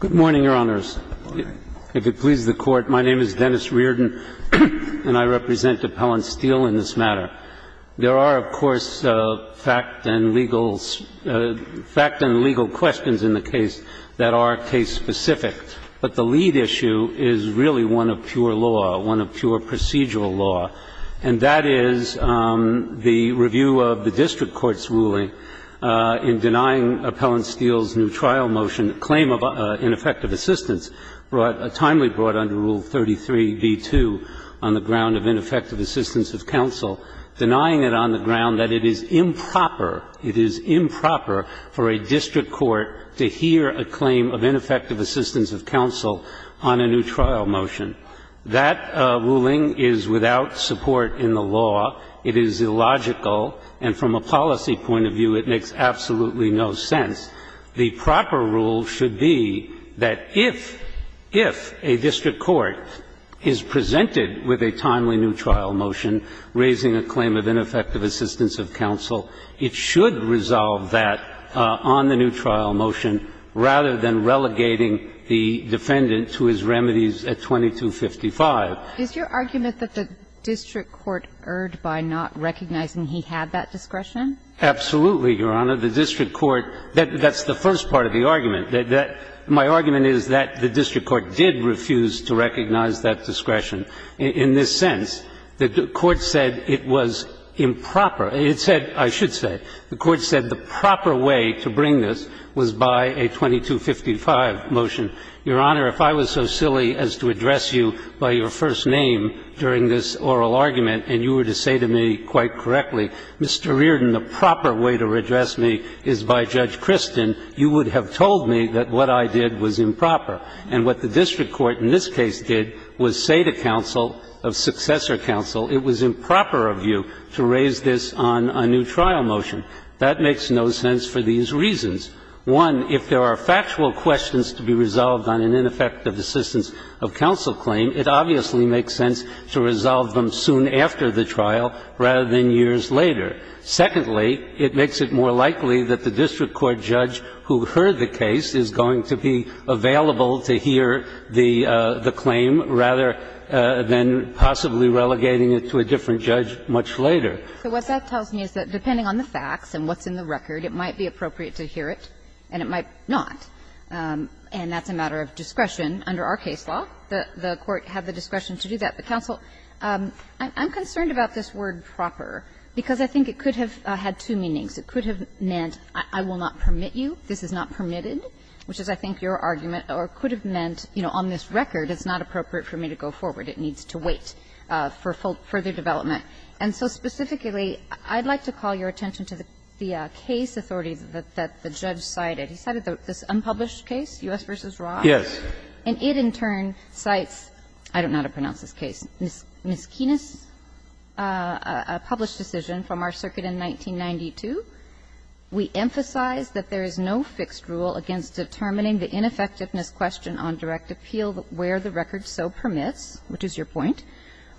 Good morning, Your Honors. If it pleases the Court, my name is Dennis Reardon, and I represent Appellant Steele in this matter. There are, of course, fact and legal questions in the case that are case-specific, but the lead issue is really one of pure law, one of pure procedural law, and that is the review of the district court's ruling in denying Appellant Steele's new trial motion and claim of ineffective assistance, timely brought under Rule 33b2 on the ground of ineffective assistance of counsel, denying it on the ground that it is improper for a district court to hear a claim of ineffective assistance of counsel on a new trial motion. That ruling is without support in the law. It is illogical, and from a policy point of view, it makes absolutely no sense. The proper rule should be that if, if a district court is presented with a timely new trial motion raising a claim of ineffective assistance of counsel, it should resolve that on the new trial motion rather than relegating the defendant to his remedies at 2255. Is your argument that the district court erred by not recognizing he had that discretion? Absolutely, Your Honor. The district court, that's the first part of the argument. My argument is that the district court did refuse to recognize that discretion in this sense. The court said it was improper. It said, I should say, the court said the proper way to bring this was by a 2255 motion. Your Honor, if I was so silly as to address you by your first name during this oral argument, and you were to say to me quite correctly, Mr. Reardon, the proper way to address me is by Judge Kristin, you would have told me that what I did was improper. And what the district court in this case did was say to counsel, of successor counsel, it was improper of you to raise this on a new trial motion. That makes no sense for these reasons. One, if there are factual questions to be resolved on an ineffective assistance of counsel claim, it obviously makes sense to resolve them soon after the trial rather than years later. Secondly, it makes it more likely that the district court judge who heard the case is going to be available to hear the claim rather than possibly relegating it to a different judge much later. So what that tells me is that depending on the facts and what's in the record, it might be appropriate to hear it, and it might not. And that's a matter of discretion under our case law. The court had the discretion to do that. But, counsel, I'm concerned about this word proper, because I think it could have had two meanings. It could have meant I will not permit you, this is not permitted, which is, I think, your argument. Or it could have meant, you know, on this record, it's not appropriate for me to go forward, it needs to wait for further development. And so specifically, I'd like to call your attention to the case authority that the case authority has in its unpublished case, U.S. v. Ross, and it, in turn, cites Mrs. Kienes' published decision from our circuit in 1992. We emphasize that there is no fixed rule against determining the ineffectiveness question on direct appeal where the record so permits, which is your point.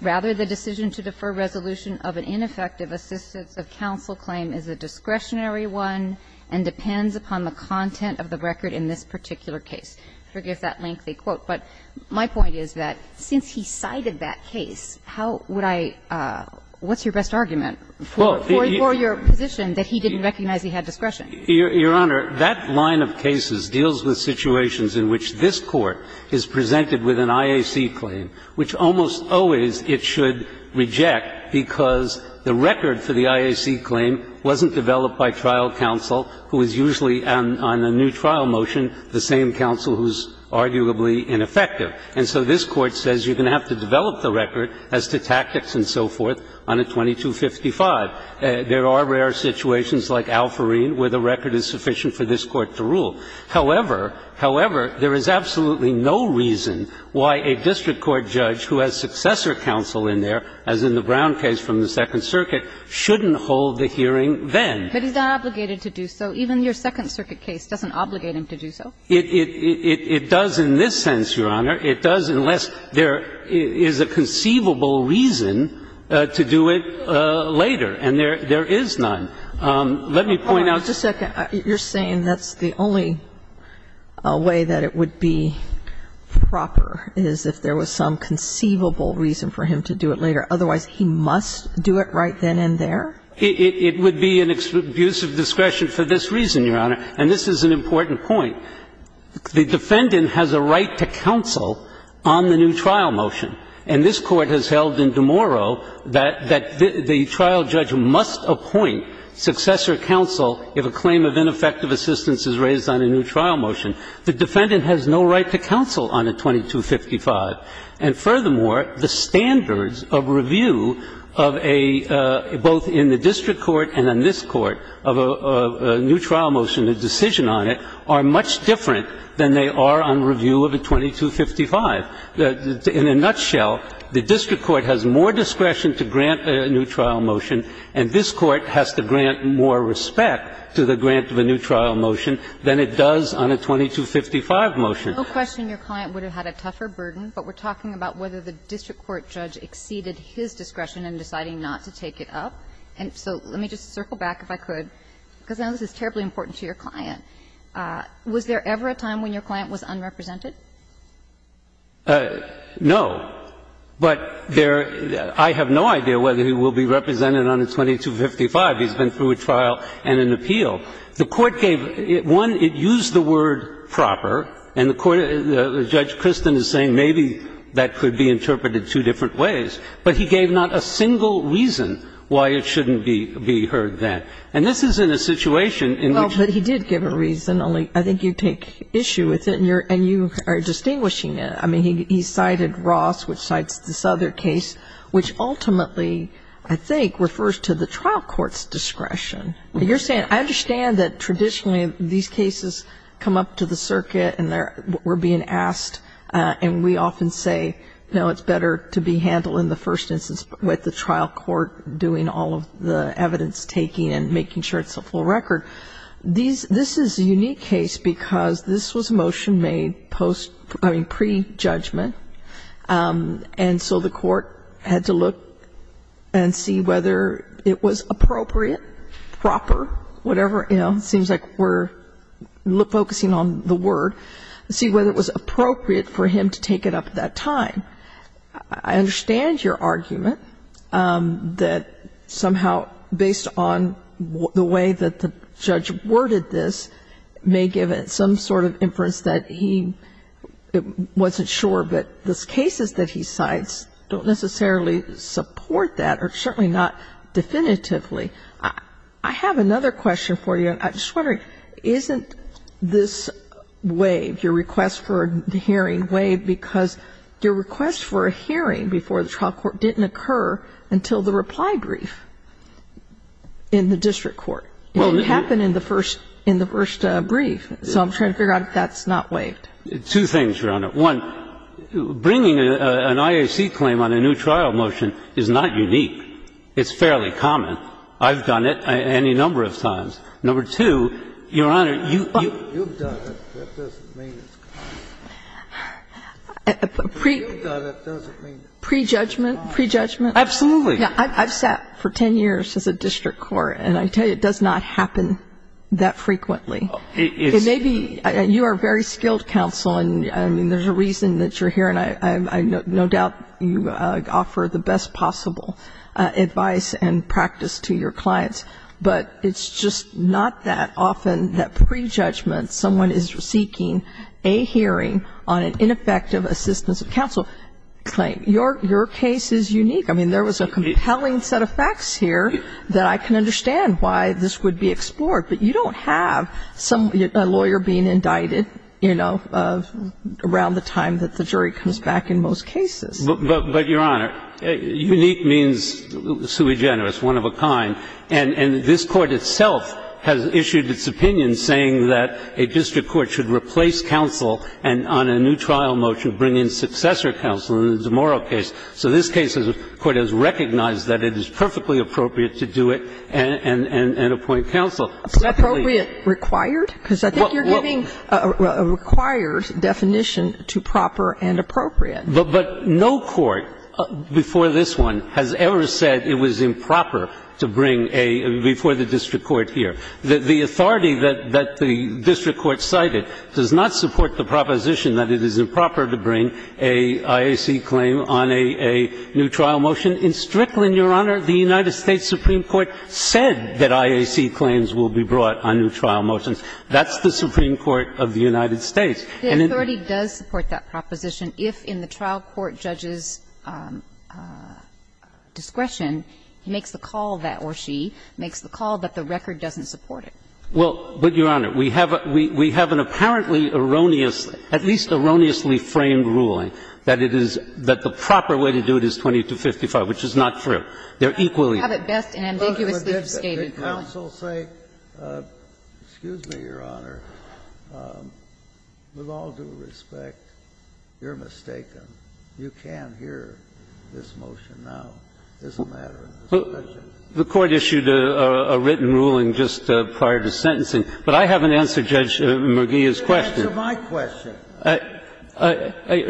Rather, the decision to defer resolution of an ineffective assistance of counsel claim is a discretionary one and depends upon the content of the record. that the case authority has in its unpublished case, U.S. v. Ross, and it, in turn, depends upon the content of the record in this particular case. I forgive that lengthy quote, but my point is that since he cited that case, how would I – what's your best argument for your position that he didn't recognize he had discretion? Your Honor, that line of cases deals with situations in which this Court is presented with an IAC claim, which almost always it should reject because the record for the IAC claim wasn't developed by trial counsel, who is usually on a new trial motion, the same counsel who's arguably ineffective. And so this Court says you're going to have to develop the record as to tactics and so forth on a 2255. There are rare situations like Alfarine where the record is sufficient for this Court to rule. However, however, there is absolutely no reason why a district court judge who has successor counsel in there, as in the Brown case from the Second Circuit, shouldn't hold the hearing then. But he's not obligated to do so. Even your Second Circuit case doesn't obligate him to do so. It does in this sense, Your Honor. It does unless there is a conceivable reason to do it later, and there is none. Let me point out to you. Hold on just a second. You're saying that's the only way that it would be proper is if there was some conceivable reason for him to do it later, otherwise he must do it right then and there? It would be an abuse of discretion for this reason, Your Honor. And this is an important point. The defendant has a right to counsel on the new trial motion. And this Court has held in DeMauro that the trial judge must appoint successor counsel if a claim of ineffective assistance is raised on a new trial motion. The defendant has no right to counsel on a 2255. And furthermore, the standards of review of a – both in the district court and in this Court, of a new trial motion, a decision on it, are much different than they are on review of a 2255. In a nutshell, the district court has more discretion to grant a new trial motion, and this Court has to grant more respect to the grant of a new trial motion than it does on a 2255 motion. No question your client would have had a tougher burden, but we're talking about whether the district court judge exceeded his discretion in deciding not to take it up. And so let me just circle back, if I could, because I know this is terribly important to your client. Was there ever a time when your client was unrepresented? No, but there – I have no idea whether he will be represented on a 2255. He's been through a trial and an appeal. The Court gave – one, it used the word proper, and the court – Judge Kristin is saying maybe that could be interpreted two different ways. But he gave not a single reason why it shouldn't be heard that. And this is in a situation in which – Well, but he did give a reason, only I think you take issue with it and you are distinguishing it. I mean, he cited Ross, which cites this other case, which ultimately, I think, refers to the trial court's discretion. You're saying – I understand that traditionally these cases come up to the circuit and they're – we're being asked and we often say, no, it's better to be handled in the first instance with the trial court doing all of the evidence-taking and making sure it's a full record. This is a unique case because this was a motion made post – I mean, pre-judgment. And so the court had to look and see whether it was appropriate, proper, whatever, you know, the word, see whether it was appropriate for him to take it up at that time. I understand your argument that somehow based on the way that the judge worded this may give it some sort of inference that he wasn't sure, but those cases that he cites don't necessarily support that or certainly not definitively. I have another question for you. I'm just wondering, isn't this waived, your request for a hearing waived, because your request for a hearing before the trial court didn't occur until the reply brief in the district court? It didn't happen in the first – in the first brief. So I'm trying to figure out if that's not waived. Two things, Your Honor. One, bringing an IAC claim on a new trial motion is not unique. It's fairly common. I've done it any number of times. Number two, Your Honor, you've done it. That doesn't mean it's common. You've done it. That doesn't mean it's common. Pre-judgment? Pre-judgment? Absolutely. I've sat for 10 years as a district court, and I tell you, it does not happen that frequently. It may be – you are a very skilled counsel, and I mean, there's a reason that you're giving the best possible advice and practice to your clients, but it's just not that often that pre-judgment, someone is seeking a hearing on an ineffective assistance of counsel claim. Your case is unique. I mean, there was a compelling set of facts here that I can understand why this would be explored, but you don't have some – a lawyer being indicted, you know, around the time that the jury comes back in most cases. But, Your Honor, unique means sui generis, one of a kind. And this Court itself has issued its opinion saying that a district court should replace counsel and on a new trial motion bring in successor counsel in a demoral case. So this case, the Court has recognized that it is perfectly appropriate to do it and appoint counsel. Appropriate required? Because I think you're giving a required definition to proper and appropriate. But no court before this one has ever said it was improper to bring a – before the district court here. The authority that the district court cited does not support the proposition that it is improper to bring a IAC claim on a new trial motion. In Strickland, Your Honor, the United States Supreme Court said that IAC claims will be brought on new trial motions. That's the Supreme Court of the United States. The authority does support that proposition if in the trial court judge's discretion he makes the call that or she makes the call that the record doesn't support it. Well, but, Your Honor, we have an apparently erroneous, at least erroneously framed ruling that it is – that the proper way to do it is 2255, which is not true. They're equally – Have it best and ambiguously absconded. Can counsel say, excuse me, Your Honor, with all due respect, you're mistaken. You can't hear this motion now. It's a matter of discretion. The Court issued a written ruling just prior to sentencing, but I haven't answered Judge McGeeh's question. Answer my question.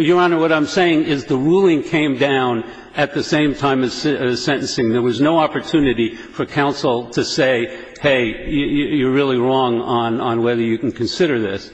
Your Honor, what I'm saying is the ruling came down at the same time as sentencing. There was no opportunity for counsel to say, hey, you're really wrong on whether you can consider this.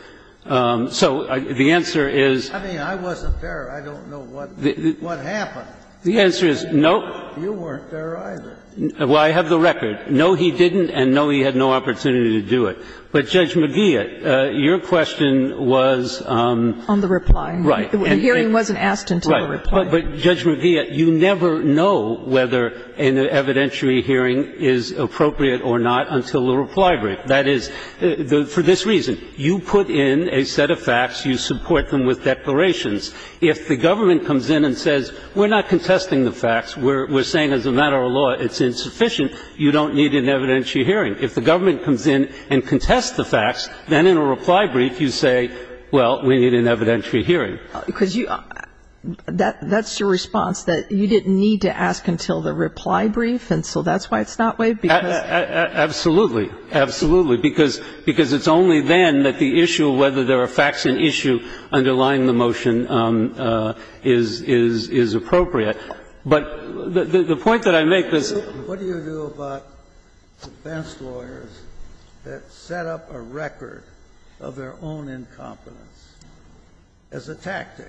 So the answer is – I mean, I wasn't there. I don't know what happened. The answer is, no. You weren't there either. Well, I have the record. No, he didn't, and no, he had no opportunity to do it. But Judge McGeeh, your question was – On the reply. Right. The hearing wasn't asked until the reply. But, Judge McGeeh, you never know whether an evidentiary hearing is appropriate or not until the reply brief. That is, for this reason, you put in a set of facts, you support them with declarations. If the government comes in and says, we're not contesting the facts, we're saying as a matter of law it's insufficient, you don't need an evidentiary hearing. If the government comes in and contests the facts, then in a reply brief you say, well, we need an evidentiary hearing. Because you – that's your response, that you didn't need to ask until the reply brief, and so that's why it's not waived? Absolutely. Absolutely. Because it's only then that the issue of whether there are facts in issue underlying the motion is appropriate. But the point that I make is – What do you do about defense lawyers that set up a record of their own incompetence? As a tactic.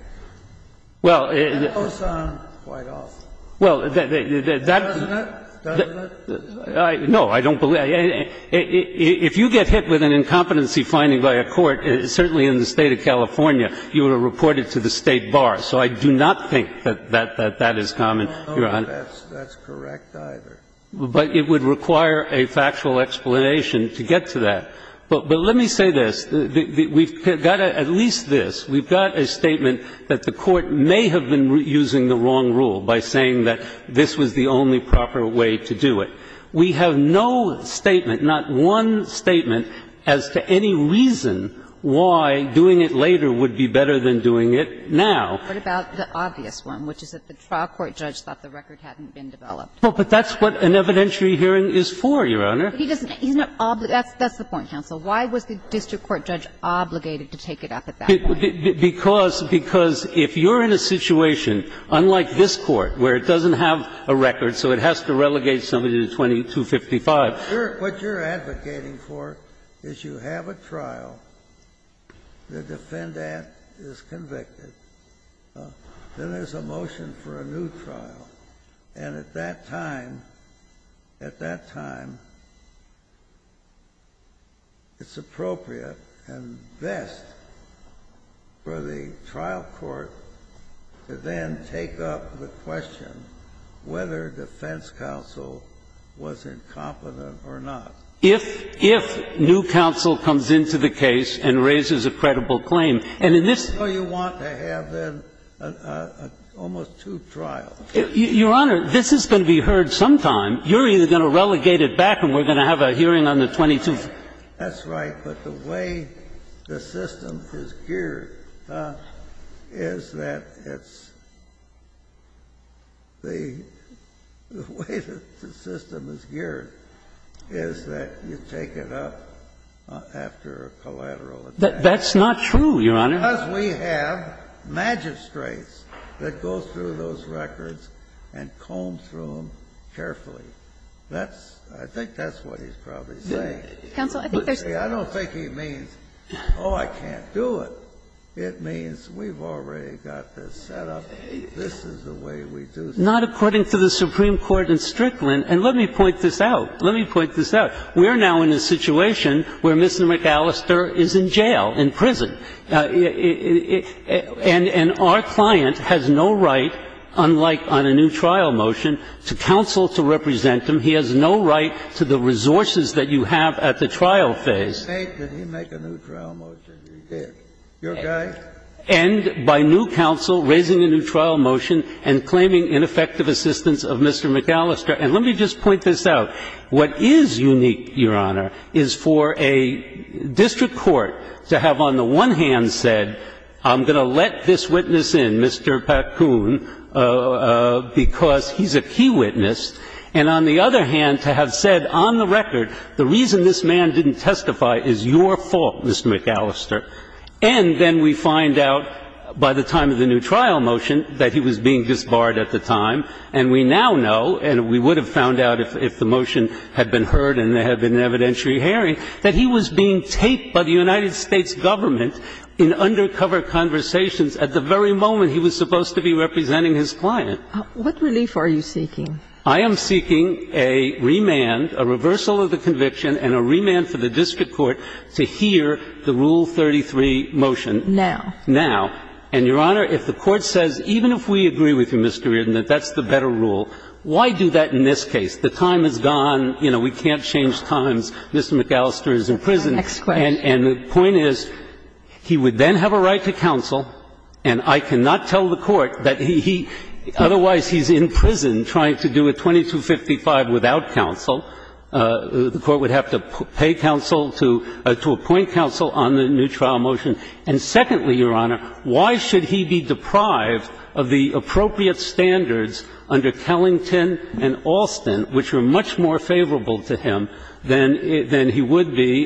Well, it's – And it goes on quite often. Well, that – Doesn't it? Doesn't it? No, I don't believe – if you get hit with an incompetency finding by a court, certainly in the State of California, you are reported to the State bar. So I do not think that that is common, Your Honor. No, no, that's correct either. But it would require a factual explanation to get to that. But let me say this. We've got at least this. We've got a statement that the Court may have been using the wrong rule by saying that this was the only proper way to do it. We have no statement, not one statement, as to any reason why doing it later would be better than doing it now. What about the obvious one, which is that the trial court judge thought the record hadn't been developed? Well, but that's what an evidentiary hearing is for, Your Honor. But he doesn't – he's not – that's the point. He's not the one who advocates that the record hadn't been developed. And so, to me, that's the question that's so important. Why was the district court judge obligated to take it up at that point? Because, because if you're in a situation unlike this Court, where it doesn't have a record, so it has to relegate somebody to 2255. What you're advocating for is you have a trial, the defendant is convicted. Then there's a motion for a new trial. And at that time, at that time, it's appropriate and best for the trial court to then take up the question whether defense counsel was incompetent or not. If, if new counsel comes into the case and raises a credible claim. And in this case, you want to have, then, almost two trials. Your Honor, this is going to be heard sometime. You're either going to relegate it back and we're going to have a hearing on the 22. That's right. But the way the system is geared is that it's, the way the system is geared is that you take it up after a collateral attack. That's not true, Your Honor. Because we have magistrates that go through those records and comb through them carefully. That's, I think that's what he's probably saying. Counsel, I think there's I don't think he means, oh, I can't do it. It means we've already got this set up. This is the way we do things. Not according to the Supreme Court in Strickland. And let me point this out. Let me point this out. We're now in a situation where Mr. McAllister is in jail, in prison. And our client has no right, unlike on a new trial motion, to counsel to represent him. He has no right to the resources that you have at the trial phase. He made a new trial motion. He did. Your guy? And by new counsel, raising a new trial motion and claiming ineffective assistance of Mr. McAllister. And let me just point this out. What is unique, Your Honor, is for a district court to have on the one hand said, I'm going to let this witness in, Mr. Pakun, because he's a key witness. And on the other hand, to have said on the record, the reason this man didn't testify is your fault, Mr. McAllister. And then we find out by the time of the new trial motion that he was being disbarred at the time. And we now know, and we would have found out if the motion had been heard and there had been an evidentiary hearing, that he was being taped by the United States government in undercover conversations at the very moment he was supposed to be representing his client. What relief are you seeking? I am seeking a remand, a reversal of the conviction, and a remand for the district court to hear the Rule 33 motion. Now. Now. And, Your Honor, if the Court says, even if we agree with you, Mr. Reardon, that that's the better rule, why do that in this case? The time is gone. You know, we can't change times. Mr. McAllister is in prison. And the point is, he would then have a right to counsel, and I cannot tell the Court that he otherwise he's in prison trying to do a 2255 without counsel. The Court would have to pay counsel to appoint counsel on the new trial motion. And secondly, Your Honor, why should he be deprived of the appropriate standards under Kellington and Alston, which were much more favorable to him than he would be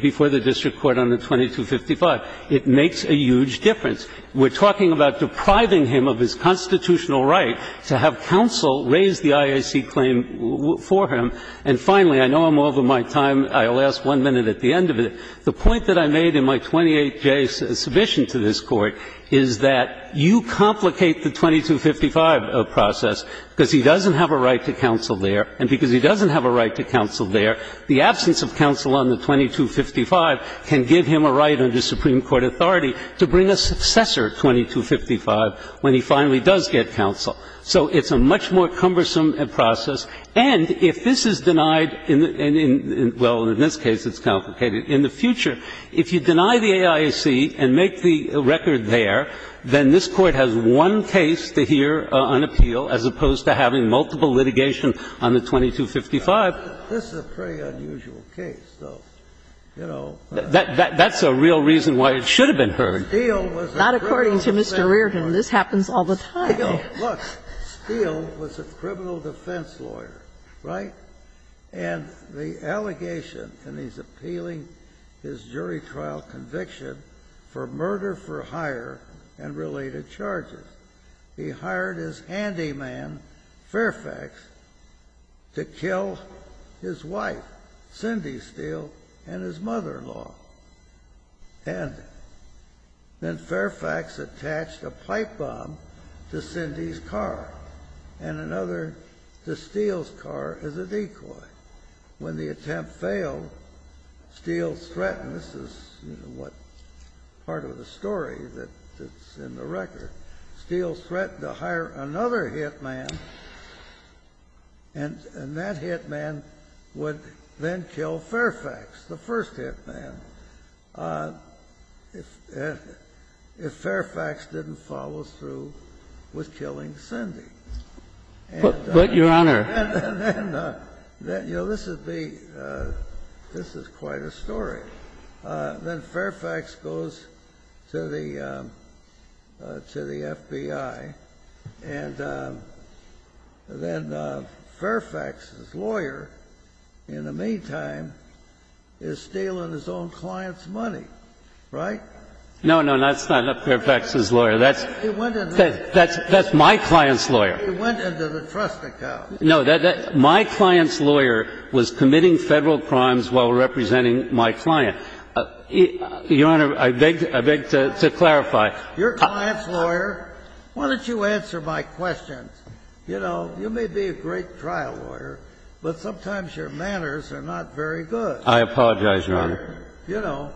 before the district court on the 2255? It makes a huge difference. We're talking about depriving him of his constitutional right to have counsel raise the IAC claim for him. And finally, I know I'm over my time. I'll ask one minute at the end of it. The point that I made in my 28-day submission to this Court is that you complicate the 2255 process because he doesn't have a right to counsel there, and because he doesn't have a right to counsel there, the absence of counsel on the 2255 can give him a right under Supreme Court authority to bring a successor 2255 when he finally does get counsel. So it's a much more cumbersome process. And if this is denied in the – well, in this case it's complicated. In the future, if you deny the IAC and make the record there, then this Court has one case to hear on appeal as opposed to having multiple litigation on the 2255. This is a pretty unusual case, though. You know, that's a real reason why it should have been heard. Sotomayor, not according to Mr. Reardon. This happens all the time. Look, Steele was a criminal defense lawyer, right? And the allegation, and he's appealing his jury trial conviction for murder for hire and related charges. He hired his handyman, Fairfax, to kill his wife, Cindy Steele, and his mother-in-law. And then Fairfax attached a pipe bomb to Cindy's car and another to Steele's car as a decoy. When the attempt failed, Steele's threatened – this is, you know, part of the story that's in the record – Steele threatened to hire another hitman, and that hitman would then kill Fairfax, the first hitman, if Fairfax didn't follow through with killing Cindy. But, Your Honor. And then, you know, this would be – this is quite a story. Then Fairfax goes to the FBI, and then Fairfax's lawyer, in the meantime, is stealing his own client's money, right? No, no, that's not Fairfax's lawyer. That's my client's lawyer. It went into the trust account. My client's lawyer was committing Federal crimes while representing my client. Your Honor, I beg to clarify. Your client's lawyer? Why don't you answer my questions? You know, you may be a great trial lawyer, but sometimes your manners are not very good. I apologize, Your Honor. You know.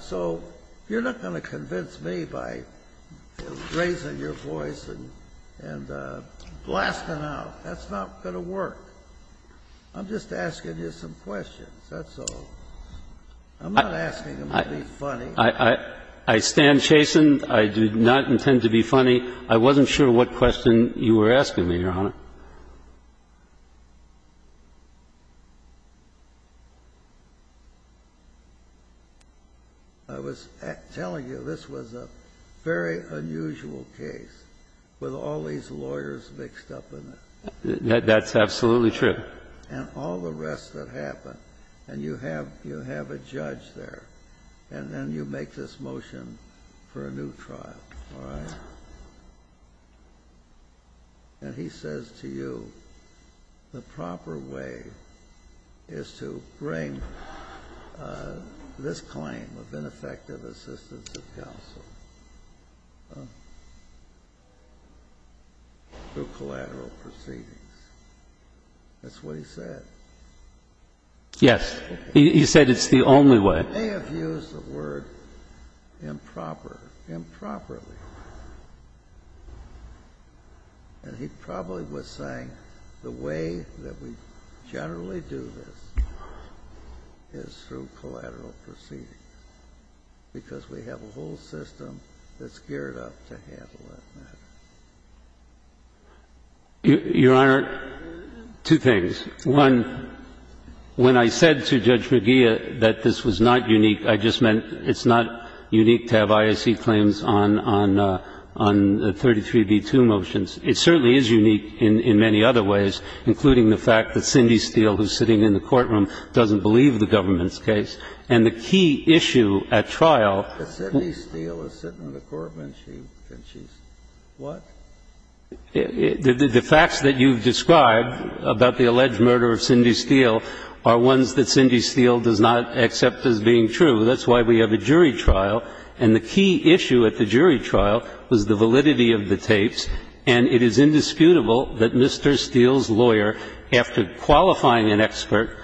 So you're not going to convince me by raising your voice and blasting out. That's not going to work. I'm just asking you some questions. That's all. I'm not asking you to be funny. I stand chastened. I do not intend to be funny. I wasn't sure what question you were asking me, Your Honor. I was telling you, this was a very unusual case with all these lawyers mixed up in it. That's absolutely true. And all the rest that happened, and you have a judge there, and then you make a judgment, and he says to you, the proper way is to bring this claim of ineffective assistance of counsel through collateral proceedings. That's what he said. Yes. He said it's the only way. He may have used the word improper, improperly. And he probably was saying the way that we generally do this is through collateral proceedings, because we have a whole system that's geared up to handle that matter. Your Honor, two things. One, when I said to Judge McGeeh that this was not unique, I just meant it's not unique to have IAC claims on 33b-2 motions. It certainly is unique in many other ways, including the fact that Cindy Steele, who's sitting in the courtroom, doesn't believe the government's case. And the key issue at trial --. But Cindy Steele is sitting in the courtroom, and she's what? The facts that you've described about the alleged murder of Cindy Steele are ones that Cindy Steele does not accept as being true. That's why we have a jury trial. And the key issue at the jury trial was the validity of the tapes, and it is indisputable that Mr. Steele's lawyer, after qualifying an expert,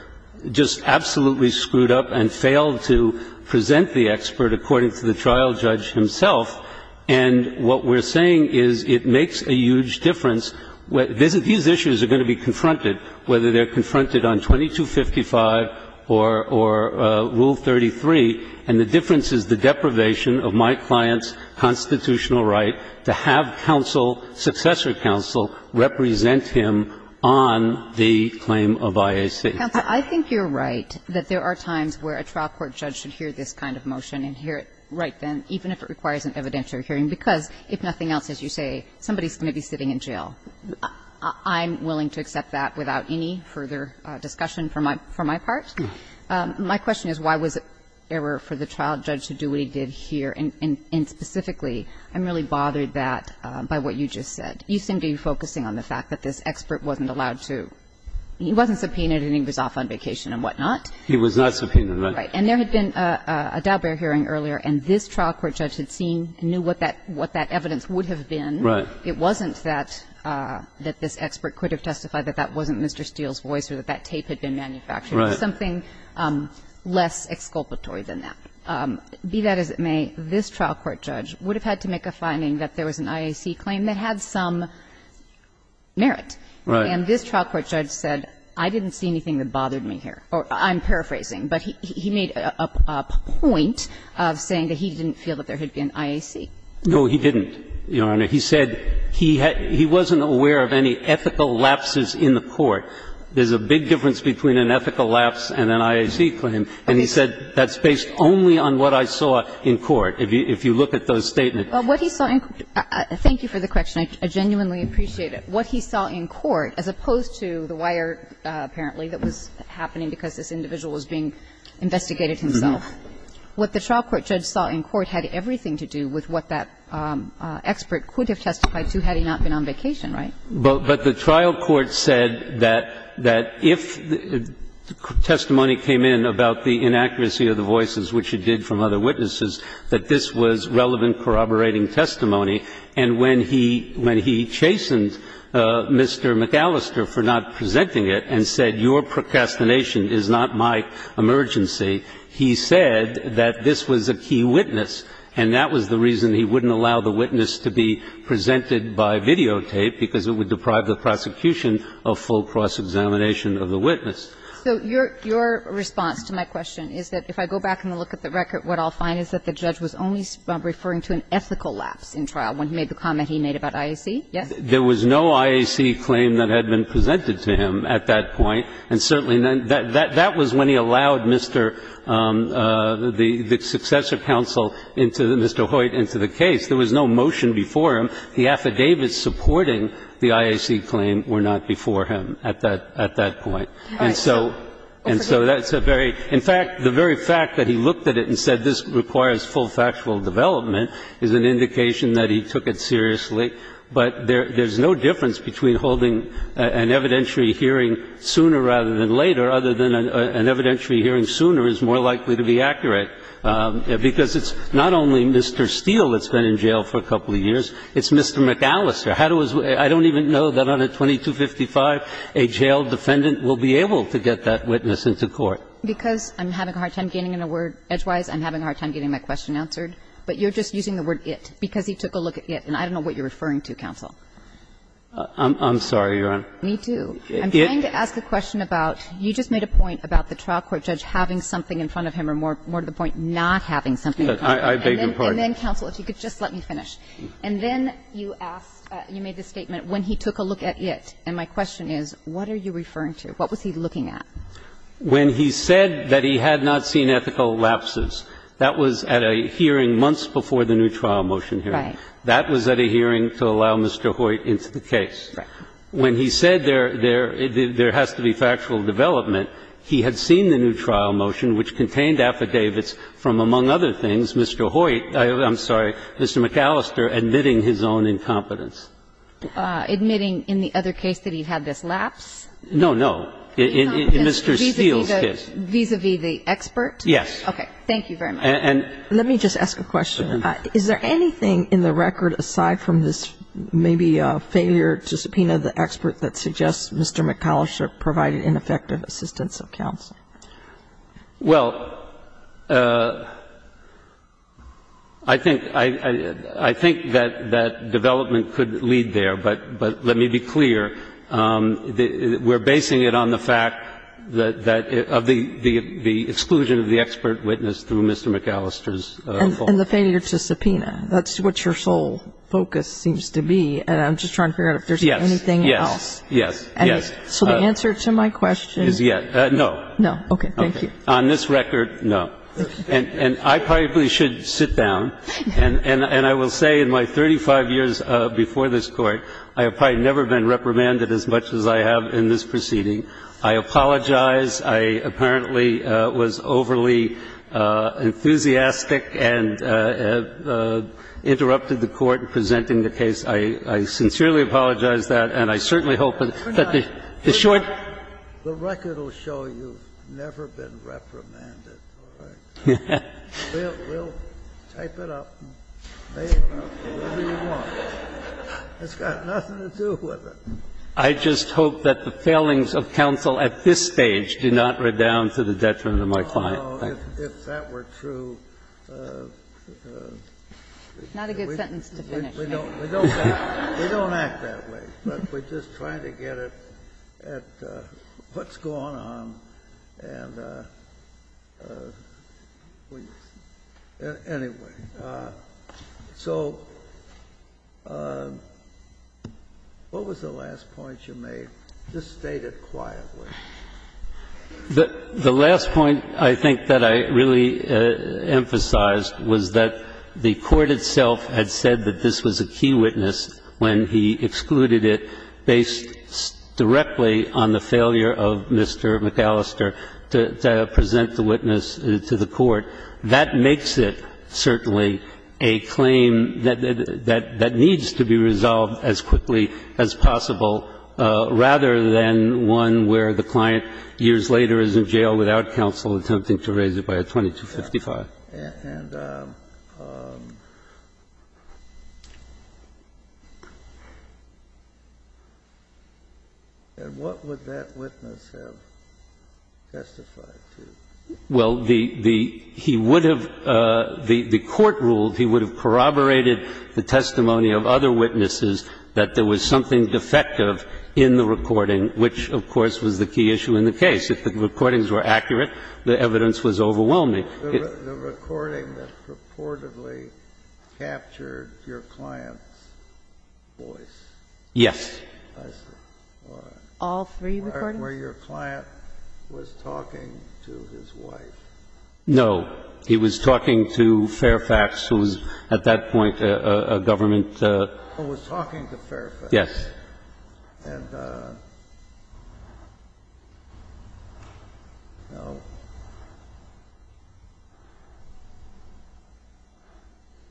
just absolutely screwed up and failed to present the expert according to the trial judge himself. And what we're saying is it makes a huge difference. These issues are going to be confronted, whether they're confronted on 2255 or Rule 33, and the difference is the deprivation of my client's constitutional right to have counsel, successor counsel, represent him on the claim of IAC. Counsel, I think you're right that there are times where a trial court judge should because if nothing else, as you say, somebody's going to be sitting in jail. I'm willing to accept that without any further discussion for my part. My question is why was it error for the trial judge to do what he did here, and specifically, I'm really bothered by what you just said. You seem to be focusing on the fact that this expert wasn't allowed to – he wasn't subpoenaed and he was off on vacation and whatnot. He was not subpoenaed, right. And there had been a Daubert hearing earlier, and this trial court judge had seen and knew what that evidence would have been. Right. It wasn't that this expert could have testified that that wasn't Mr. Steele's voice or that that tape had been manufactured. Right. It was something less exculpatory than that. Be that as it may, this trial court judge would have had to make a finding that there was an IAC claim that had some merit. Right. And this trial court judge said, I didn't see anything that bothered me here. I'm paraphrasing. But he made a point of saying that he didn't feel that there had been IAC. No, he didn't, Your Honor. He said he wasn't aware of any ethical lapses in the court. There's a big difference between an ethical lapse and an IAC claim. And he said that's based only on what I saw in court, if you look at the statement. Well, what he saw in court – thank you for the question. I genuinely appreciate it. But what he saw in court, as opposed to the wire, apparently, that was happening because this individual was being investigated himself, what the trial court judge saw in court had everything to do with what that expert could have testified to had he not been on vacation, right? But the trial court said that if testimony came in about the inaccuracy of the voices, which it did from other witnesses, that this was relevant corroborating testimony, and when he chastened Mr. McAllister for not presenting it and said, your procrastination is not my emergency, he said that this was a key witness, and that was the reason he wouldn't allow the witness to be presented by videotape because it would deprive the prosecution of full cross-examination of the witness. So your response to my question is that if I go back and look at the record, what I see is that there was no IAC claim that had been presented to him at that point, and certainly none – that was when he allowed Mr. – the successor counsel into the – Mr. Hoyt into the case. There was no motion before him. The affidavits supporting the IAC claim were not before him at that point. And so – and so that's a very – in fact, the very fact that he looked at it and said this requires full factual development is an indication that he took it seriously. But there's no difference between holding an evidentiary hearing sooner rather than later, other than an evidentiary hearing sooner is more likely to be accurate, because it's not only Mr. Steele that's been in jail for a couple of years, it's Mr. McAllister. How do we – I don't even know that on a 2255, a jail defendant will be able to get that witness into court. Because I'm having a hard time gaining a word edgewise, I'm having a hard time getting my question answered. But you're just using the word it, because he took a look at it. And I don't know what you're referring to, counsel. I'm sorry, Your Honor. Me too. I'm trying to ask a question about – you just made a point about the trial court judge having something in front of him, or more to the point, not having something in front of him. I beg your pardon. And then, counsel, if you could just let me finish. And then you asked – you made the statement when he took a look at it. And my question is, what are you referring to? What was he looking at? When he said that he had not seen ethical lapses, that was at a hearing months before the new trial motion hearing. Right. That was at a hearing to allow Mr. Hoyt into the case. Right. When he said there – there has to be factual development, he had seen the new trial motion, which contained affidavits from, among other things, Mr. Hoyt – I'm sorry, Mr. McAllister admitting his own incompetence. Admitting in the other case that he had this lapse? No, no. In Mr. Steele's case. Vis-a-vis the expert? Yes. Okay. Thank you very much. And – Let me just ask a question. Is there anything in the record aside from this maybe failure to subpoena the expert that suggests Mr. McAllister provided ineffective assistance of counsel? Well, I think – I think that development could lead there. But let me be clear. We're basing it on the fact that – of the exclusion of the expert witness through Mr. McAllister's fault. And the failure to subpoena. That's what your sole focus seems to be. And I'm just trying to figure out if there's anything else. Yes. Yes. Yes. So the answer to my question – Is yet. No. No. Okay. Thank you. On this record, no. And I probably should sit down. And I will say in my 35 years before this Court, I have probably never been reprimanded as much as I have in this proceeding. I apologize. I apparently was overly enthusiastic and interrupted the Court in presenting the case. I sincerely apologize that. And I certainly hope that the short – The record will show you've never been reprimanded. All right? We'll type it up, save it up, whatever you want. It's got nothing to do with it. I just hope that the failings of counsel at this stage do not redound to the detriment of my client. Oh, no. If that were true – Not a good sentence to finish. We don't act that way. But we're just trying to get it at what's going on. And anyway. So what was the last point you made? Just state it quietly. The last point I think that I really emphasized was that the Court itself had said that this was a key witness when he excluded it based directly on the failure of Mr. McAllister to present the witness to the Court. That makes it certainly a claim that needs to be resolved as quickly as possible rather than one where the client years later is in jail without counsel attempting to raise it by a 2255. And what would that witness have testified to? Well, he would have – the Court ruled he would have corroborated the testimony of other witnesses that there was something defective in the recording, which, of course, was the key issue in the case. If the recordings were accurate, the evidence was overwhelming. The recording that purportedly captured your client's voice? Yes. I see. All three recordings? Where your client was talking to his wife. No. He was talking to Fairfax, who was at that point a government – Who was talking to Fairfax. Yes. And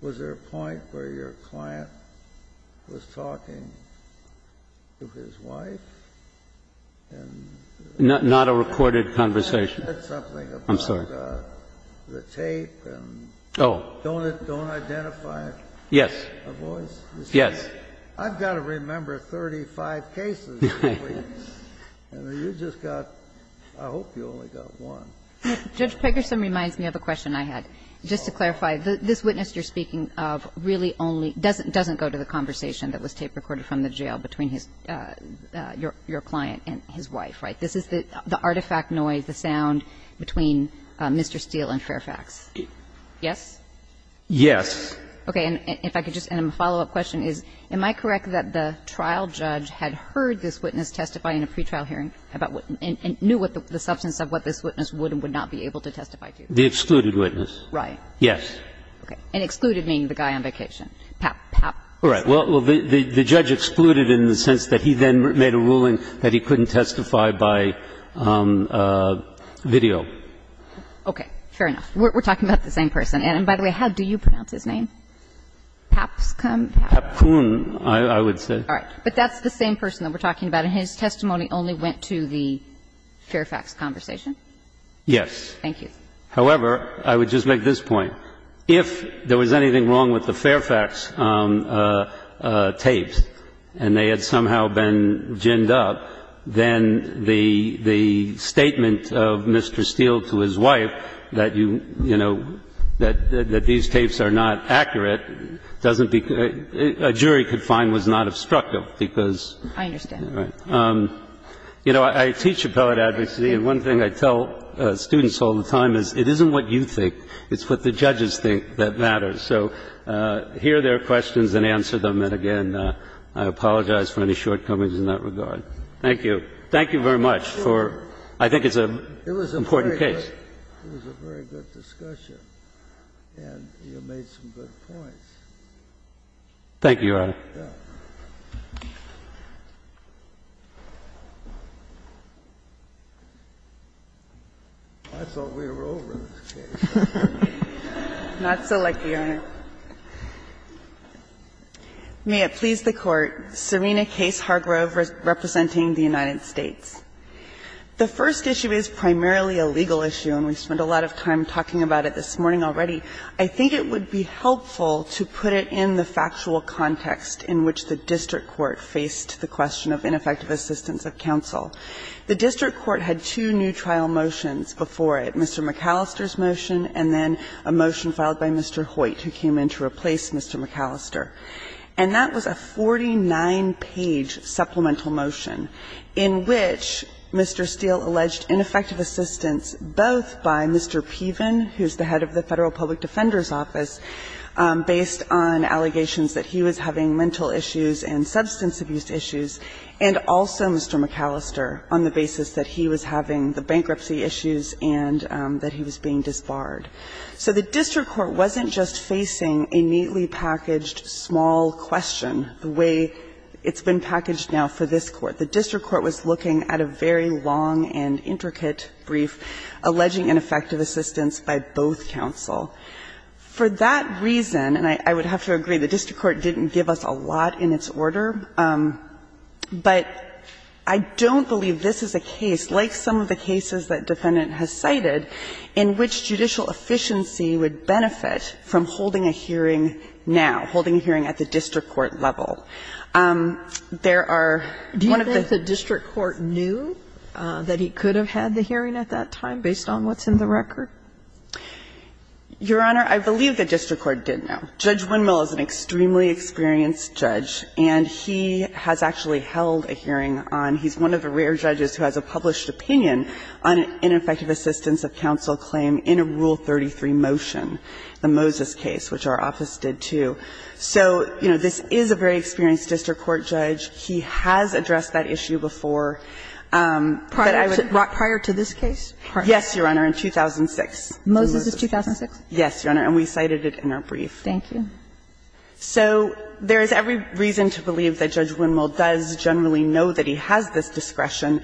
was there a point where your client was talking to his wife? Not a recorded conversation. I said something about the tape and don't identify a voice? Yes. Yes. I've got to remember 35 cases. And you just got – I hope you only got one. Judge Pegerson reminds me of a question I had. Just to clarify, this witness you're speaking of really only – doesn't go to the conversation that was tape recorded from the jail between his – your client and his wife, right? This is the artifact noise, the sound between Mr. Steele and Fairfax. Yes? Yes. Okay. And if I could just – and a follow-up question is, am I correct that the trial judge had heard this witness testify in a pretrial hearing about what – and knew what the substance of what this witness would and would not be able to testify to? The excluded witness. Right. Yes. Okay. And excluded meaning the guy on vacation. Pap, pap. Right. Well, the judge excluded in the sense that he then made a ruling that he couldn't testify by video. Okay. Fair enough. We're talking about the same person. And, by the way, how do you pronounce his name? Papscom? Papcoon, I would say. All right. But that's the same person that we're talking about, and his testimony only went to the Fairfax conversation? Yes. Thank you. However, I would just make this point. If there was anything wrong with the Fairfax tapes and they had somehow been ginned up, then the statement of Mr. Steele to his wife that you – you know, that these tapes are not accurate doesn't be – a jury could find was not obstructive because – I understand. Right. You know, I teach appellate advocacy, and one thing I tell students all the time is it isn't what you think. It's what the judges think that matters. So hear their questions and answer them, and, again, I apologize for any shortcomings in that regard. Thank you. Thank you very much for – I think it's an important case. It was a very good discussion, and you made some good points. Thank you, Your Honor. Yeah. Not so lucky, Your Honor. May it please the Court. Serena Case Hargrove representing the United States. The first issue is primarily a legal issue, and we spent a lot of time talking about it this morning already. I think it would be helpful to put it in the factual context in which the district court faced the question of ineffective assistance of counsel. The district court had two new trial motions before it, Mr. McAllister's motion and then a motion filed by Mr. Hoyt who came in to replace Mr. McAllister. And that was a 49-page supplemental motion in which Mr. Steele alleged ineffective assistance both by Mr. Piven, who's the head of the Federal Public Defender's Office, based on allegations that he was having mental issues and substance abuse issues, and also Mr. McAllister on the basis that he was having the bankruptcy issues and that he was being disbarred. So the district court wasn't just facing a neatly packaged small question the way it's been packaged now for this Court. The district court was looking at a very long and intricate brief alleging ineffective assistance by both counsel. For that reason, and I would have to agree, the district court didn't give us a lot in its order, but I don't believe this is a case, like some of the cases that defendant has cited, in which judicial efficiency would benefit from holding a hearing now, holding a hearing at the district court level. There are one of the the district court knew that he could have had the hearing at that time based on what's in the record? Your Honor, I believe the district court did know. Judge Windmill is an extremely experienced judge, and he has actually held a hearing on, he's one of the rare judges who has a published opinion on an ineffective assistance of counsel claim in a Rule 33 motion, the Moses case, which our office did too. So, you know, this is a very experienced district court judge. He has addressed that issue before. Prior to this case? Yes, Your Honor, in 2006. Moses is 2006? Yes, Your Honor, and we cited it in our brief. Thank you. So there is every reason to believe that Judge Windmill does generally know that he has this discretion.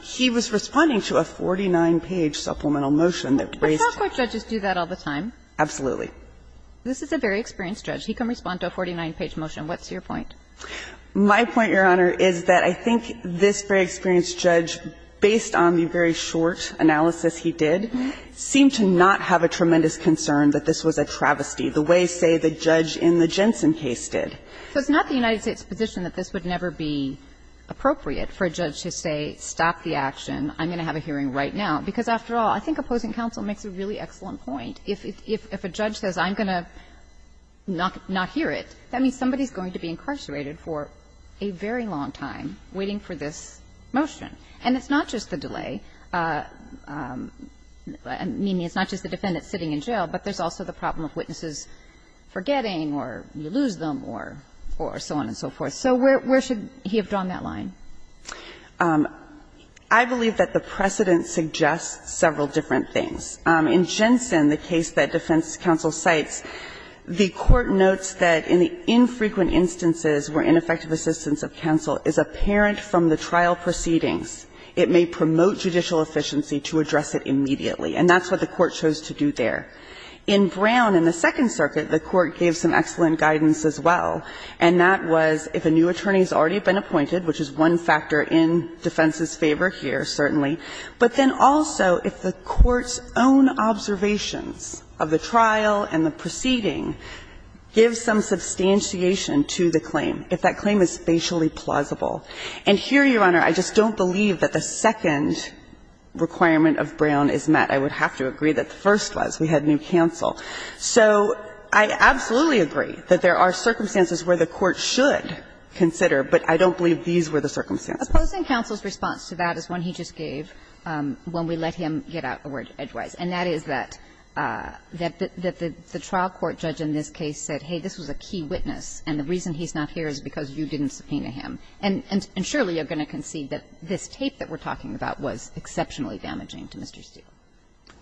He was responding to a 49-page supplemental motion that raised. But district court judges do that all the time. Absolutely. This is a very experienced judge. He can respond to a 49-page motion. What's your point? My point, Your Honor, is that I think this very experienced judge, based on the very short analysis he did, seemed to not have a tremendous concern that this was a travesty the way, say, the judge in the Jensen case did. So it's not the United States' position that this would never be appropriate for a judge to say, stop the action. I'm going to have a hearing right now. Because, after all, I think opposing counsel makes a really excellent point. If a judge says, I'm going to not hear it, that means somebody is going to be incarcerated for a very long time waiting for this motion. And it's not just the delay. I mean, it's not just the defendant sitting in jail, but there's also the problem of witnesses forgetting or you lose them or so on and so forth. So where should he have drawn that line? I believe that the precedent suggests several different things. In Jensen, the case that defense counsel cites, the Court notes that in the infrequent instances where ineffective assistance of counsel is apparent from the trial proceedings, it may promote judicial efficiency to address it immediately. And that's what the Court chose to do there. In Brown, in the Second Circuit, the Court gave some excellent guidance as well, and that was if a new attorney has already been appointed, which is one factor in defense's favor here, certainly, but then also if the Court's own observations of the trial and the proceeding give some substantiation to the claim, if that claim is spatially plausible. And here, Your Honor, I just don't believe that the second requirement of Brown is met. I would have to agree that the first was. We had new counsel. So I absolutely agree that there are circumstances where the Court should consider, but I don't believe these were the circumstances. Kagan. Opposing counsel's response to that is one he just gave when we let him get out a word edgewise, and that is that the trial court judge in this case said, hey, this was a key witness, and the reason he's not here is because you didn't subpoena him. And surely you're going to concede that this tape that we're talking about was exceptionally damaging to Mr. Steele.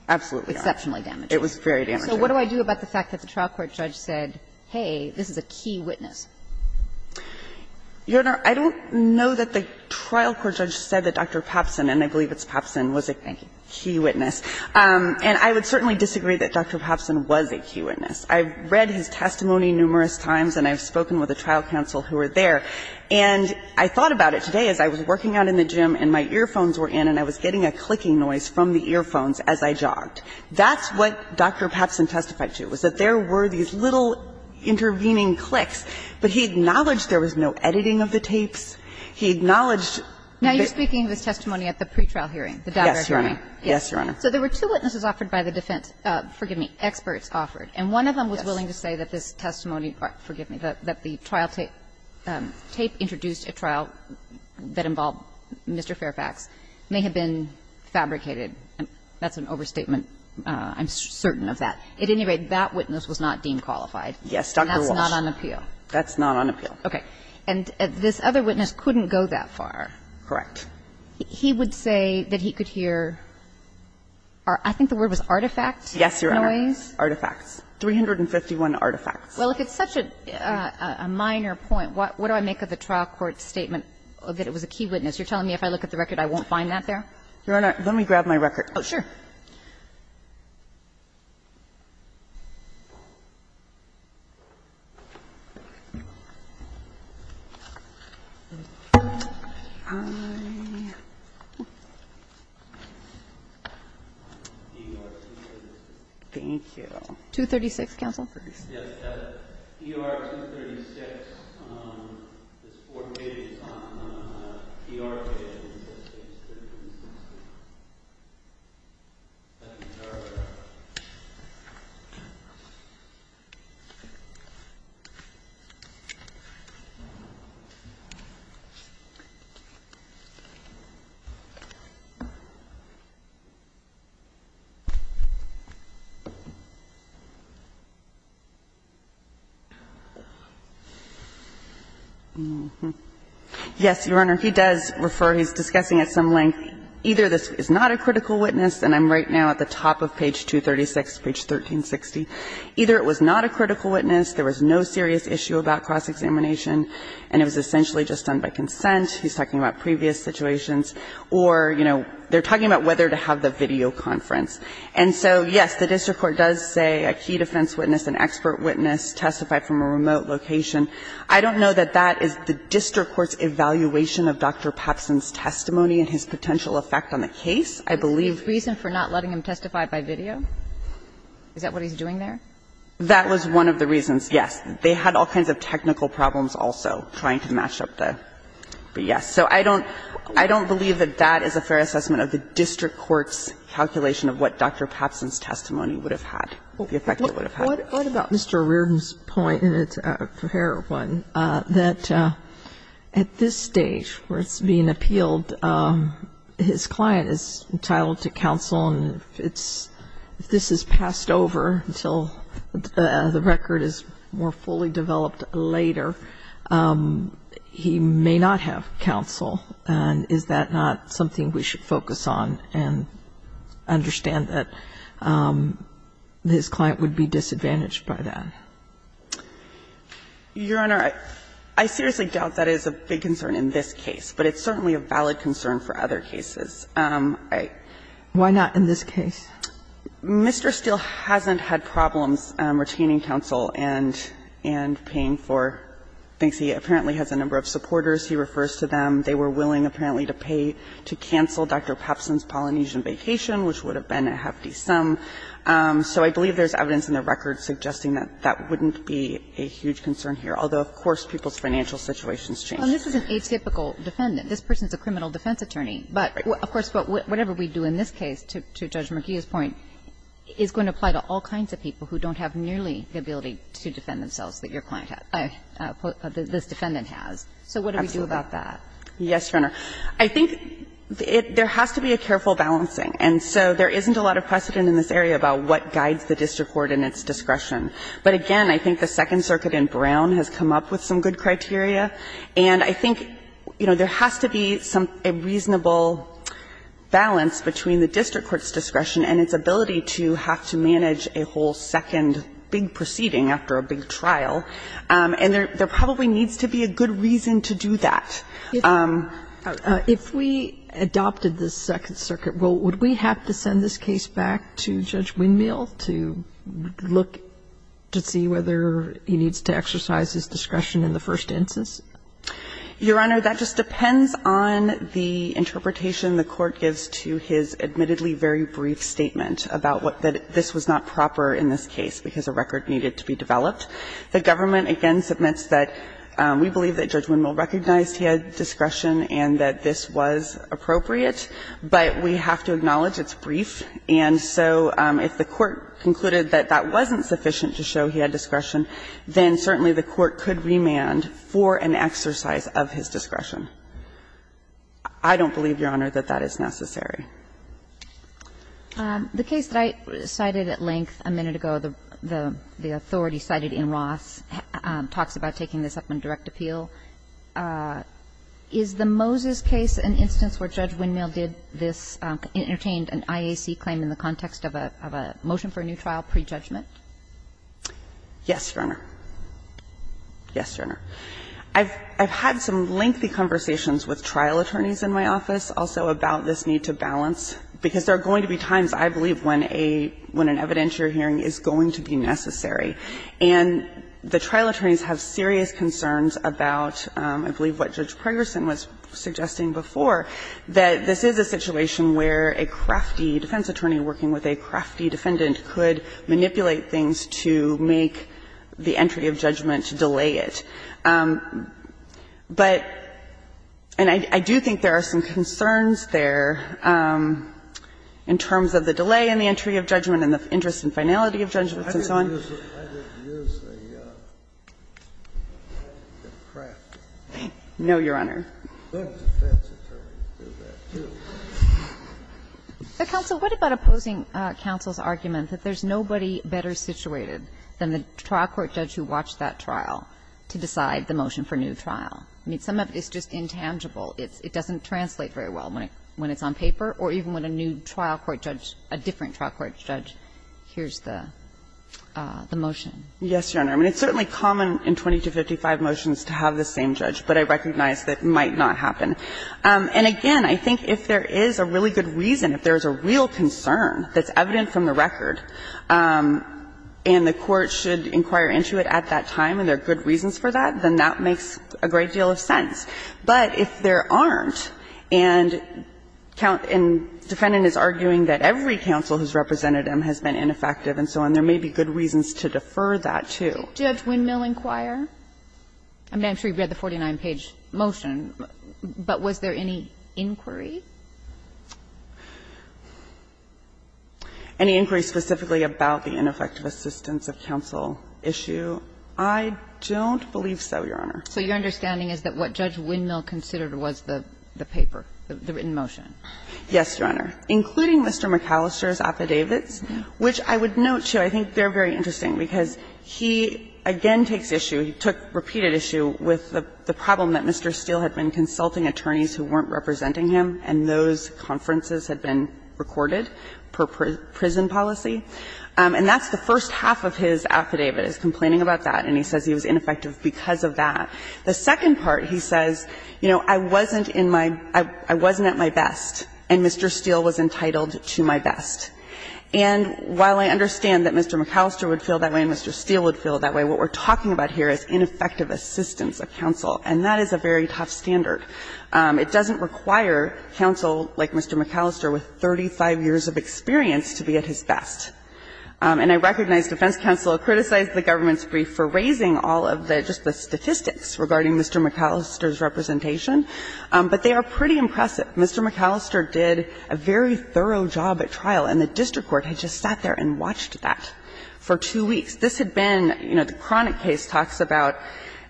Absolutely not. Exceptionally damaging. It was very damaging. So what do I do about the fact that the trial court judge said, hey, this is a key witness? Your Honor, I don't know that the trial court judge said that Dr. Papsen, and I believe it's Papsen, was a key witness. And I would certainly disagree that Dr. Papsen was a key witness. I've read his testimony numerous times, and I've spoken with the trial counsel who were there. And I thought about it today as I was working out in the gym, and my earphones were in, and I was getting a clicking noise from the earphones as I jogged. That's what Dr. Papsen testified to, was that there were these little intervening clicks, but he acknowledged there was no editing of the tapes. He acknowledged that the tape was not being edited. And that's what the trial hearing, the Daubert hearing. Yes, Your Honor. Yes. So there were two witnesses offered by the defense, forgive me, experts offered, and one of them was willing to say that this testimony, forgive me, that the trial tape introduced a trial that involved Mr. Fairfax may have been fabricated. That's an overstatement. I'm certain of that. At any rate, that witness was not deemed qualified. Yes, Dr. Walsh. And that's not on appeal. That's not on appeal. Okay. And this other witness couldn't go that far. Correct. He would say that he could hear, I think the word was artifact noise. Yes, Your Honor. Artifacts. 351 artifacts. Well, if it's such a minor point, what do I make of the trial court's statement that it was a key witness? You're telling me if I look at the record I won't find that there? Your Honor, let me grab my record. Oh, sure. Thank you. 236, counsel. Yes, that ER 236, there's four pages on the ER page. Yes, Your Honor, he does refer. He's discussing at some length either this is not a critical witness, and I'm right now at the top of page 236, page 1360. Either it was not a critical witness, there was no serious issue about cross-examination, and it was essentially just done by consent. He's talking about previous situations. Or, you know, they're talking about whether to have the videoconference. And so, yes, the district court does say a key defense witness, an expert witness testified from a remote location. I don't know that that is the district court's evaluation of Dr. Papsen's testimony and his potential effect on the case. I believe the reason for not letting him testify by video, is that what he's doing there? That was one of the reasons, yes. They had all kinds of technical problems also trying to match up the yes. So I don't believe that that is a fair assessment of the district court's calculation of what Dr. Papsen's testimony would have had, the effect it would have had. What about Mr. Reardon's point, and it's a fair one, that at this stage where it's being appealed, his client is entitled to counsel, and if this is passed over until the record is more fully developed later, he may not have counsel. And is that not something we should focus on and understand that his client would be disadvantaged by that? Your Honor, I seriously doubt that is a big concern in this case, but it's certainly a valid concern for other cases. Why not in this case? Mr. Steele hasn't had problems retaining counsel and paying for things. He apparently has a number of supporters. He refers to them. They were willing apparently to pay to cancel Dr. Papsen's Polynesian vacation, which would have been a hefty sum. So I believe there's evidence in the record suggesting that that wouldn't be a huge concern here, although, of course, people's financial situations change. Well, this is an atypical defendant. This person is a criminal defense attorney. But, of course, whatever we do in this case, to Judge McGeeh's point, is going to apply to all kinds of people who don't have nearly the ability to defend themselves that your client has, this defendant has. So what do we do about that? Yes, Your Honor. I think there has to be a careful balancing. And so there isn't a lot of precedent in this area about what guides the district court in its discretion. But, again, I think the Second Circuit in Brown has come up with some good criteria. And I think, you know, there has to be some reasonable balance between the district court's discretion and its ability to have to manage a whole second big proceeding after a big trial. And there probably needs to be a good reason to do that. If we adopted the Second Circuit, well, would we have to send this case back to Judge Windmill to look to see whether he needs to exercise his discretion in the first instance? Your Honor, that just depends on the interpretation the Court gives to his admittedly very brief statement about what this was not proper in this case, because a record needed to be developed. The government, again, submits that we believe that Judge Windmill recognized he had discretion and that this was appropriate, but we have to acknowledge it's brief. And so if the Court concluded that that wasn't sufficient to show he had discretion, then certainly the Court could remand for an exercise of his discretion. I don't believe, Your Honor, that that is necessary. The case that I cited at length a minute ago, the authority cited in Roths, talks about taking this up in direct appeal. Is the Moses case an instance where Judge Windmill did this, entertained an IAC claim in the context of a motion for a new trial pre-judgment? Yes, Your Honor. Yes, Your Honor. I've had some lengthy conversations with trial attorneys in my office, also, about this need to balance, because there are going to be times, I believe, when a – when an evidentiary hearing is going to be necessary. And the trial attorneys have serious concerns about, I believe, what Judge Pregerson was suggesting before, that this is a situation where a crafty defense attorney working with a crafty defendant could manipulate things to make the entry of judgment to delay it. But – and I do think there are some concerns there in terms of the delay in the entry of judgment and the interest in finality of judgments and so on. No, Your Honor. Counsel, what about opposing counsel's argument that there's nobody better situated than the trial court judge who watched that trial to decide the motion for new trial? I mean, some of it is just intangible. It's – it doesn't translate very well when it's on paper or even when a new trial court judge, a different trial court judge, hears the motion. Yes, Your Honor. I mean, it's certainly common in 20 to 55 motions to have the same judge, but I recognize that might not happen. And again, I think if there is a really good reason, if there's a real concern that's evident from the record, and the court should inquire into it at that time and there are good reasons for that, then that makes a great deal of sense. But if there aren't, and defendant is arguing that every counsel who's represented him has been ineffective and so on, there may be good reasons to defer that, too. Did Judge Windmill inquire? I mean, I'm sure you've read the 49-page motion, but was there any inquiry? Any inquiry specifically about the ineffective assistance of counsel issue? I don't believe so, Your Honor. So your understanding is that what Judge Windmill considered was the paper, the written motion? Yes, Your Honor. Including Mr. McAllister's affidavits, which I would note, too, I think they're very interesting, because he again takes issue, he took repeated issue with the problem that Mr. Steele had been consulting attorneys who weren't representing him, and those conferences had been recorded per prison policy. And that's the first half of his affidavit, is complaining about that, and he says he was ineffective because of that. The second part, he says, you know, I wasn't in my – I wasn't at my best, and Mr. Steele was entitled to my best. And while I understand that Mr. McAllister would feel that way and Mr. Steele would And that is a very tough standard. It doesn't require counsel like Mr. McAllister with 35 years of experience to be at his best. And I recognize defense counsel criticized the government's brief for raising all of the – just the statistics regarding Mr. McAllister's representation, but they are pretty impressive. Mr. McAllister did a very thorough job at trial, and the district court had just sat there and watched that for two weeks. This had been, you know, the chronic case talks about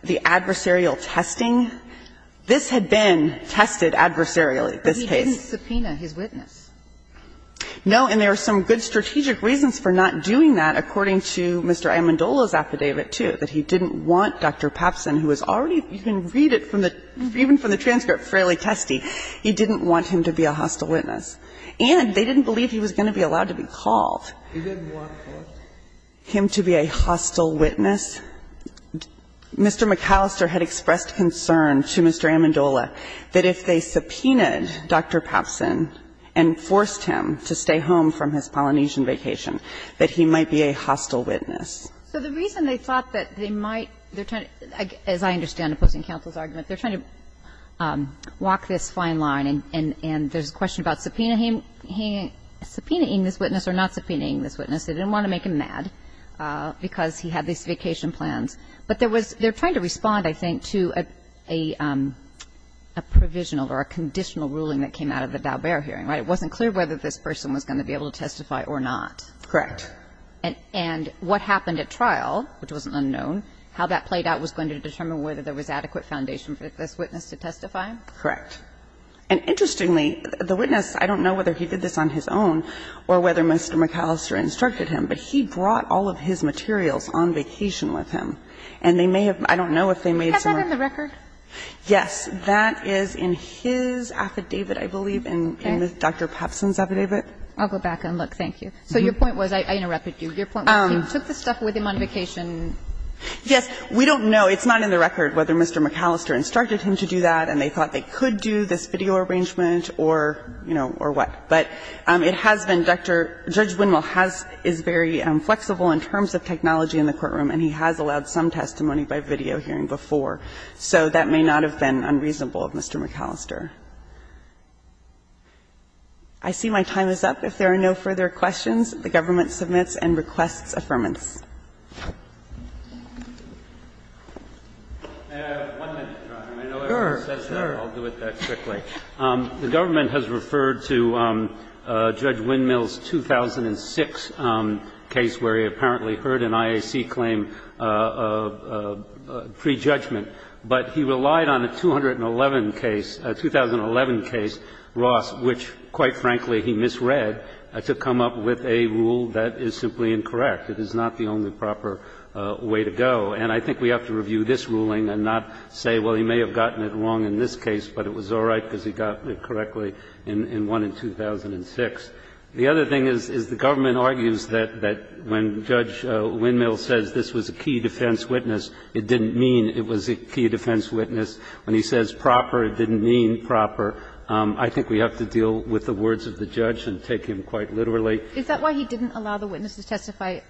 the adversarial testing. This had been tested adversarially, this case. But he didn't subpoena his witness. No, and there are some good strategic reasons for not doing that, according to Mr. Amendola's affidavit, too, that he didn't want Dr. Papsen, who was already – you can read it from the – even from the transcript, fairly testy. He didn't want him to be a hostile witness. And they didn't believe he was going to be allowed to be called. He didn't want him to be a hostile witness. Mr. McAllister had expressed concern to Mr. Amendola that if they subpoenaed Dr. Papsen and forced him to stay home from his Polynesian vacation, that he might be a hostile witness. So the reason they thought that they might – they're trying to – as I understand opposing counsel's argument, they're trying to walk this fine line, and there's They didn't want to make him mad because he had these vacation plans. But there was – they're trying to respond, I think, to a provisional or a conditional ruling that came out of the Daubert hearing, right? It wasn't clear whether this person was going to be able to testify or not. Correct. And what happened at trial, which wasn't unknown, how that played out was going to determine whether there was adequate foundation for this witness to testify? Correct. And interestingly, the witness – I don't know whether he did this on his own or whether Mr. McAllister instructed him, but he brought all of his materials on vacation with him. And they may have – I don't know if they made some of the records. Has that been in the record? Yes. That is in his affidavit, I believe, in Dr. Papsen's affidavit. I'll go back and look. Thank you. So your point was – I interrupted you. Your point was he took the stuff with him on vacation. Yes. We don't know. It's not in the record whether Mr. McAllister instructed him to do that and they thought they could do this video arrangement or, you know, or what. But it has been, Dr. – Judge Winmull has – is very flexible in terms of technology in the courtroom, and he has allowed some testimony by video hearing before. So that may not have been unreasonable of Mr. McAllister. I see my time is up. If there are no further questions, the government submits and requests affirmance. May I have one minute, Your Honor? Sure, sure. I know everybody says that, but I'll do it that quickly. The government has referred to Judge Winmull's 2006 case where he apparently heard an IAC claim of prejudgment, but he relied on a 211 case, a 2011 case, Ross, which, quite frankly, he misread, to come up with a rule that is simply incorrect. It is not the only proper way to go. And I think we have to review this ruling and not say, well, he may have gotten it wrong in this case, but it was all right because he got it correctly in one in 2006. The other thing is, is the government argues that when Judge Winmull says this was a key defense witness, it didn't mean it was a key defense witness. When he says proper, it didn't mean proper. I think we have to deal with the words of the judge and take him quite literally. Is that why he didn't allow the witness to testify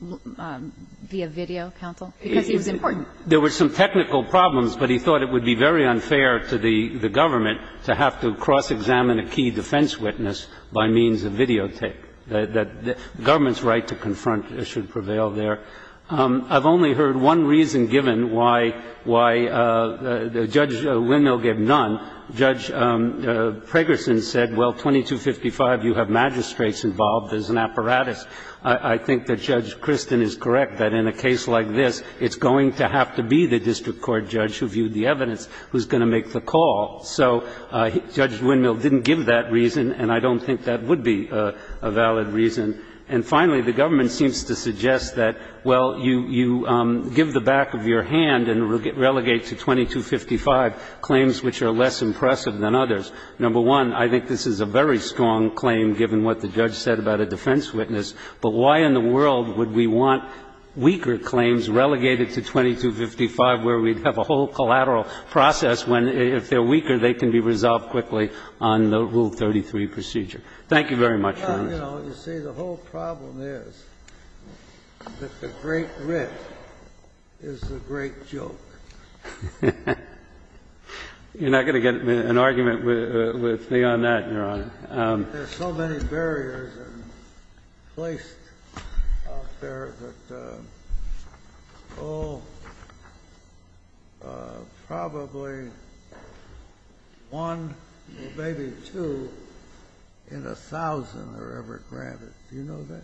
via video, counsel, because he was important? There were some technical problems, but he thought it would be very unfair to the government to have to cross-examine a key defense witness by means of videotape. The government's right to confront should prevail there. I've only heard one reason given why Judge Winmull gave none. Judge Pregerson said, well, 2255, you have magistrates involved as an apparatus. I think that Judge Kristin is correct that in a case like this, it's going to have to be the district court judge who viewed the evidence who's going to make the call. So Judge Winmull didn't give that reason, and I don't think that would be a valid reason. And finally, the government seems to suggest that, well, you give the back of your hand and relegate to 2255 claims which are less impressive than others. Number one, I think this is a very strong claim, given what the judge said about the defense witness, but why in the world would we want weaker claims relegated to 2255 where we'd have a whole collateral process when, if they're weaker, they can be resolved quickly on the Rule 33 procedure. Thank you very much, Your Honor. You know, you see, the whole problem is that the great writ is the great joke. You're not going to get an argument with me on that, Your Honor. There's so many barriers placed out there that all probably one or maybe two in a thousand are ever granted. Do you know that?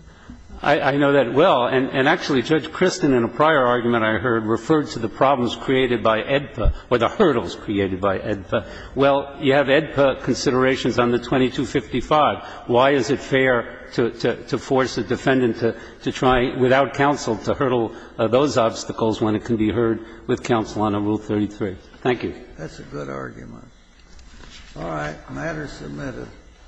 I know that well, and actually, Judge Kristin, in a prior argument I heard, referred to the problems created by AEDPA, or the hurdles created by AEDPA. Well, you have AEDPA considerations on the 2255. Why is it fair to force a defendant to try, without counsel, to hurdle those obstacles when it can be heard with counsel on a Rule 33? Thank you. That's a good argument. All right. The matter is submitted.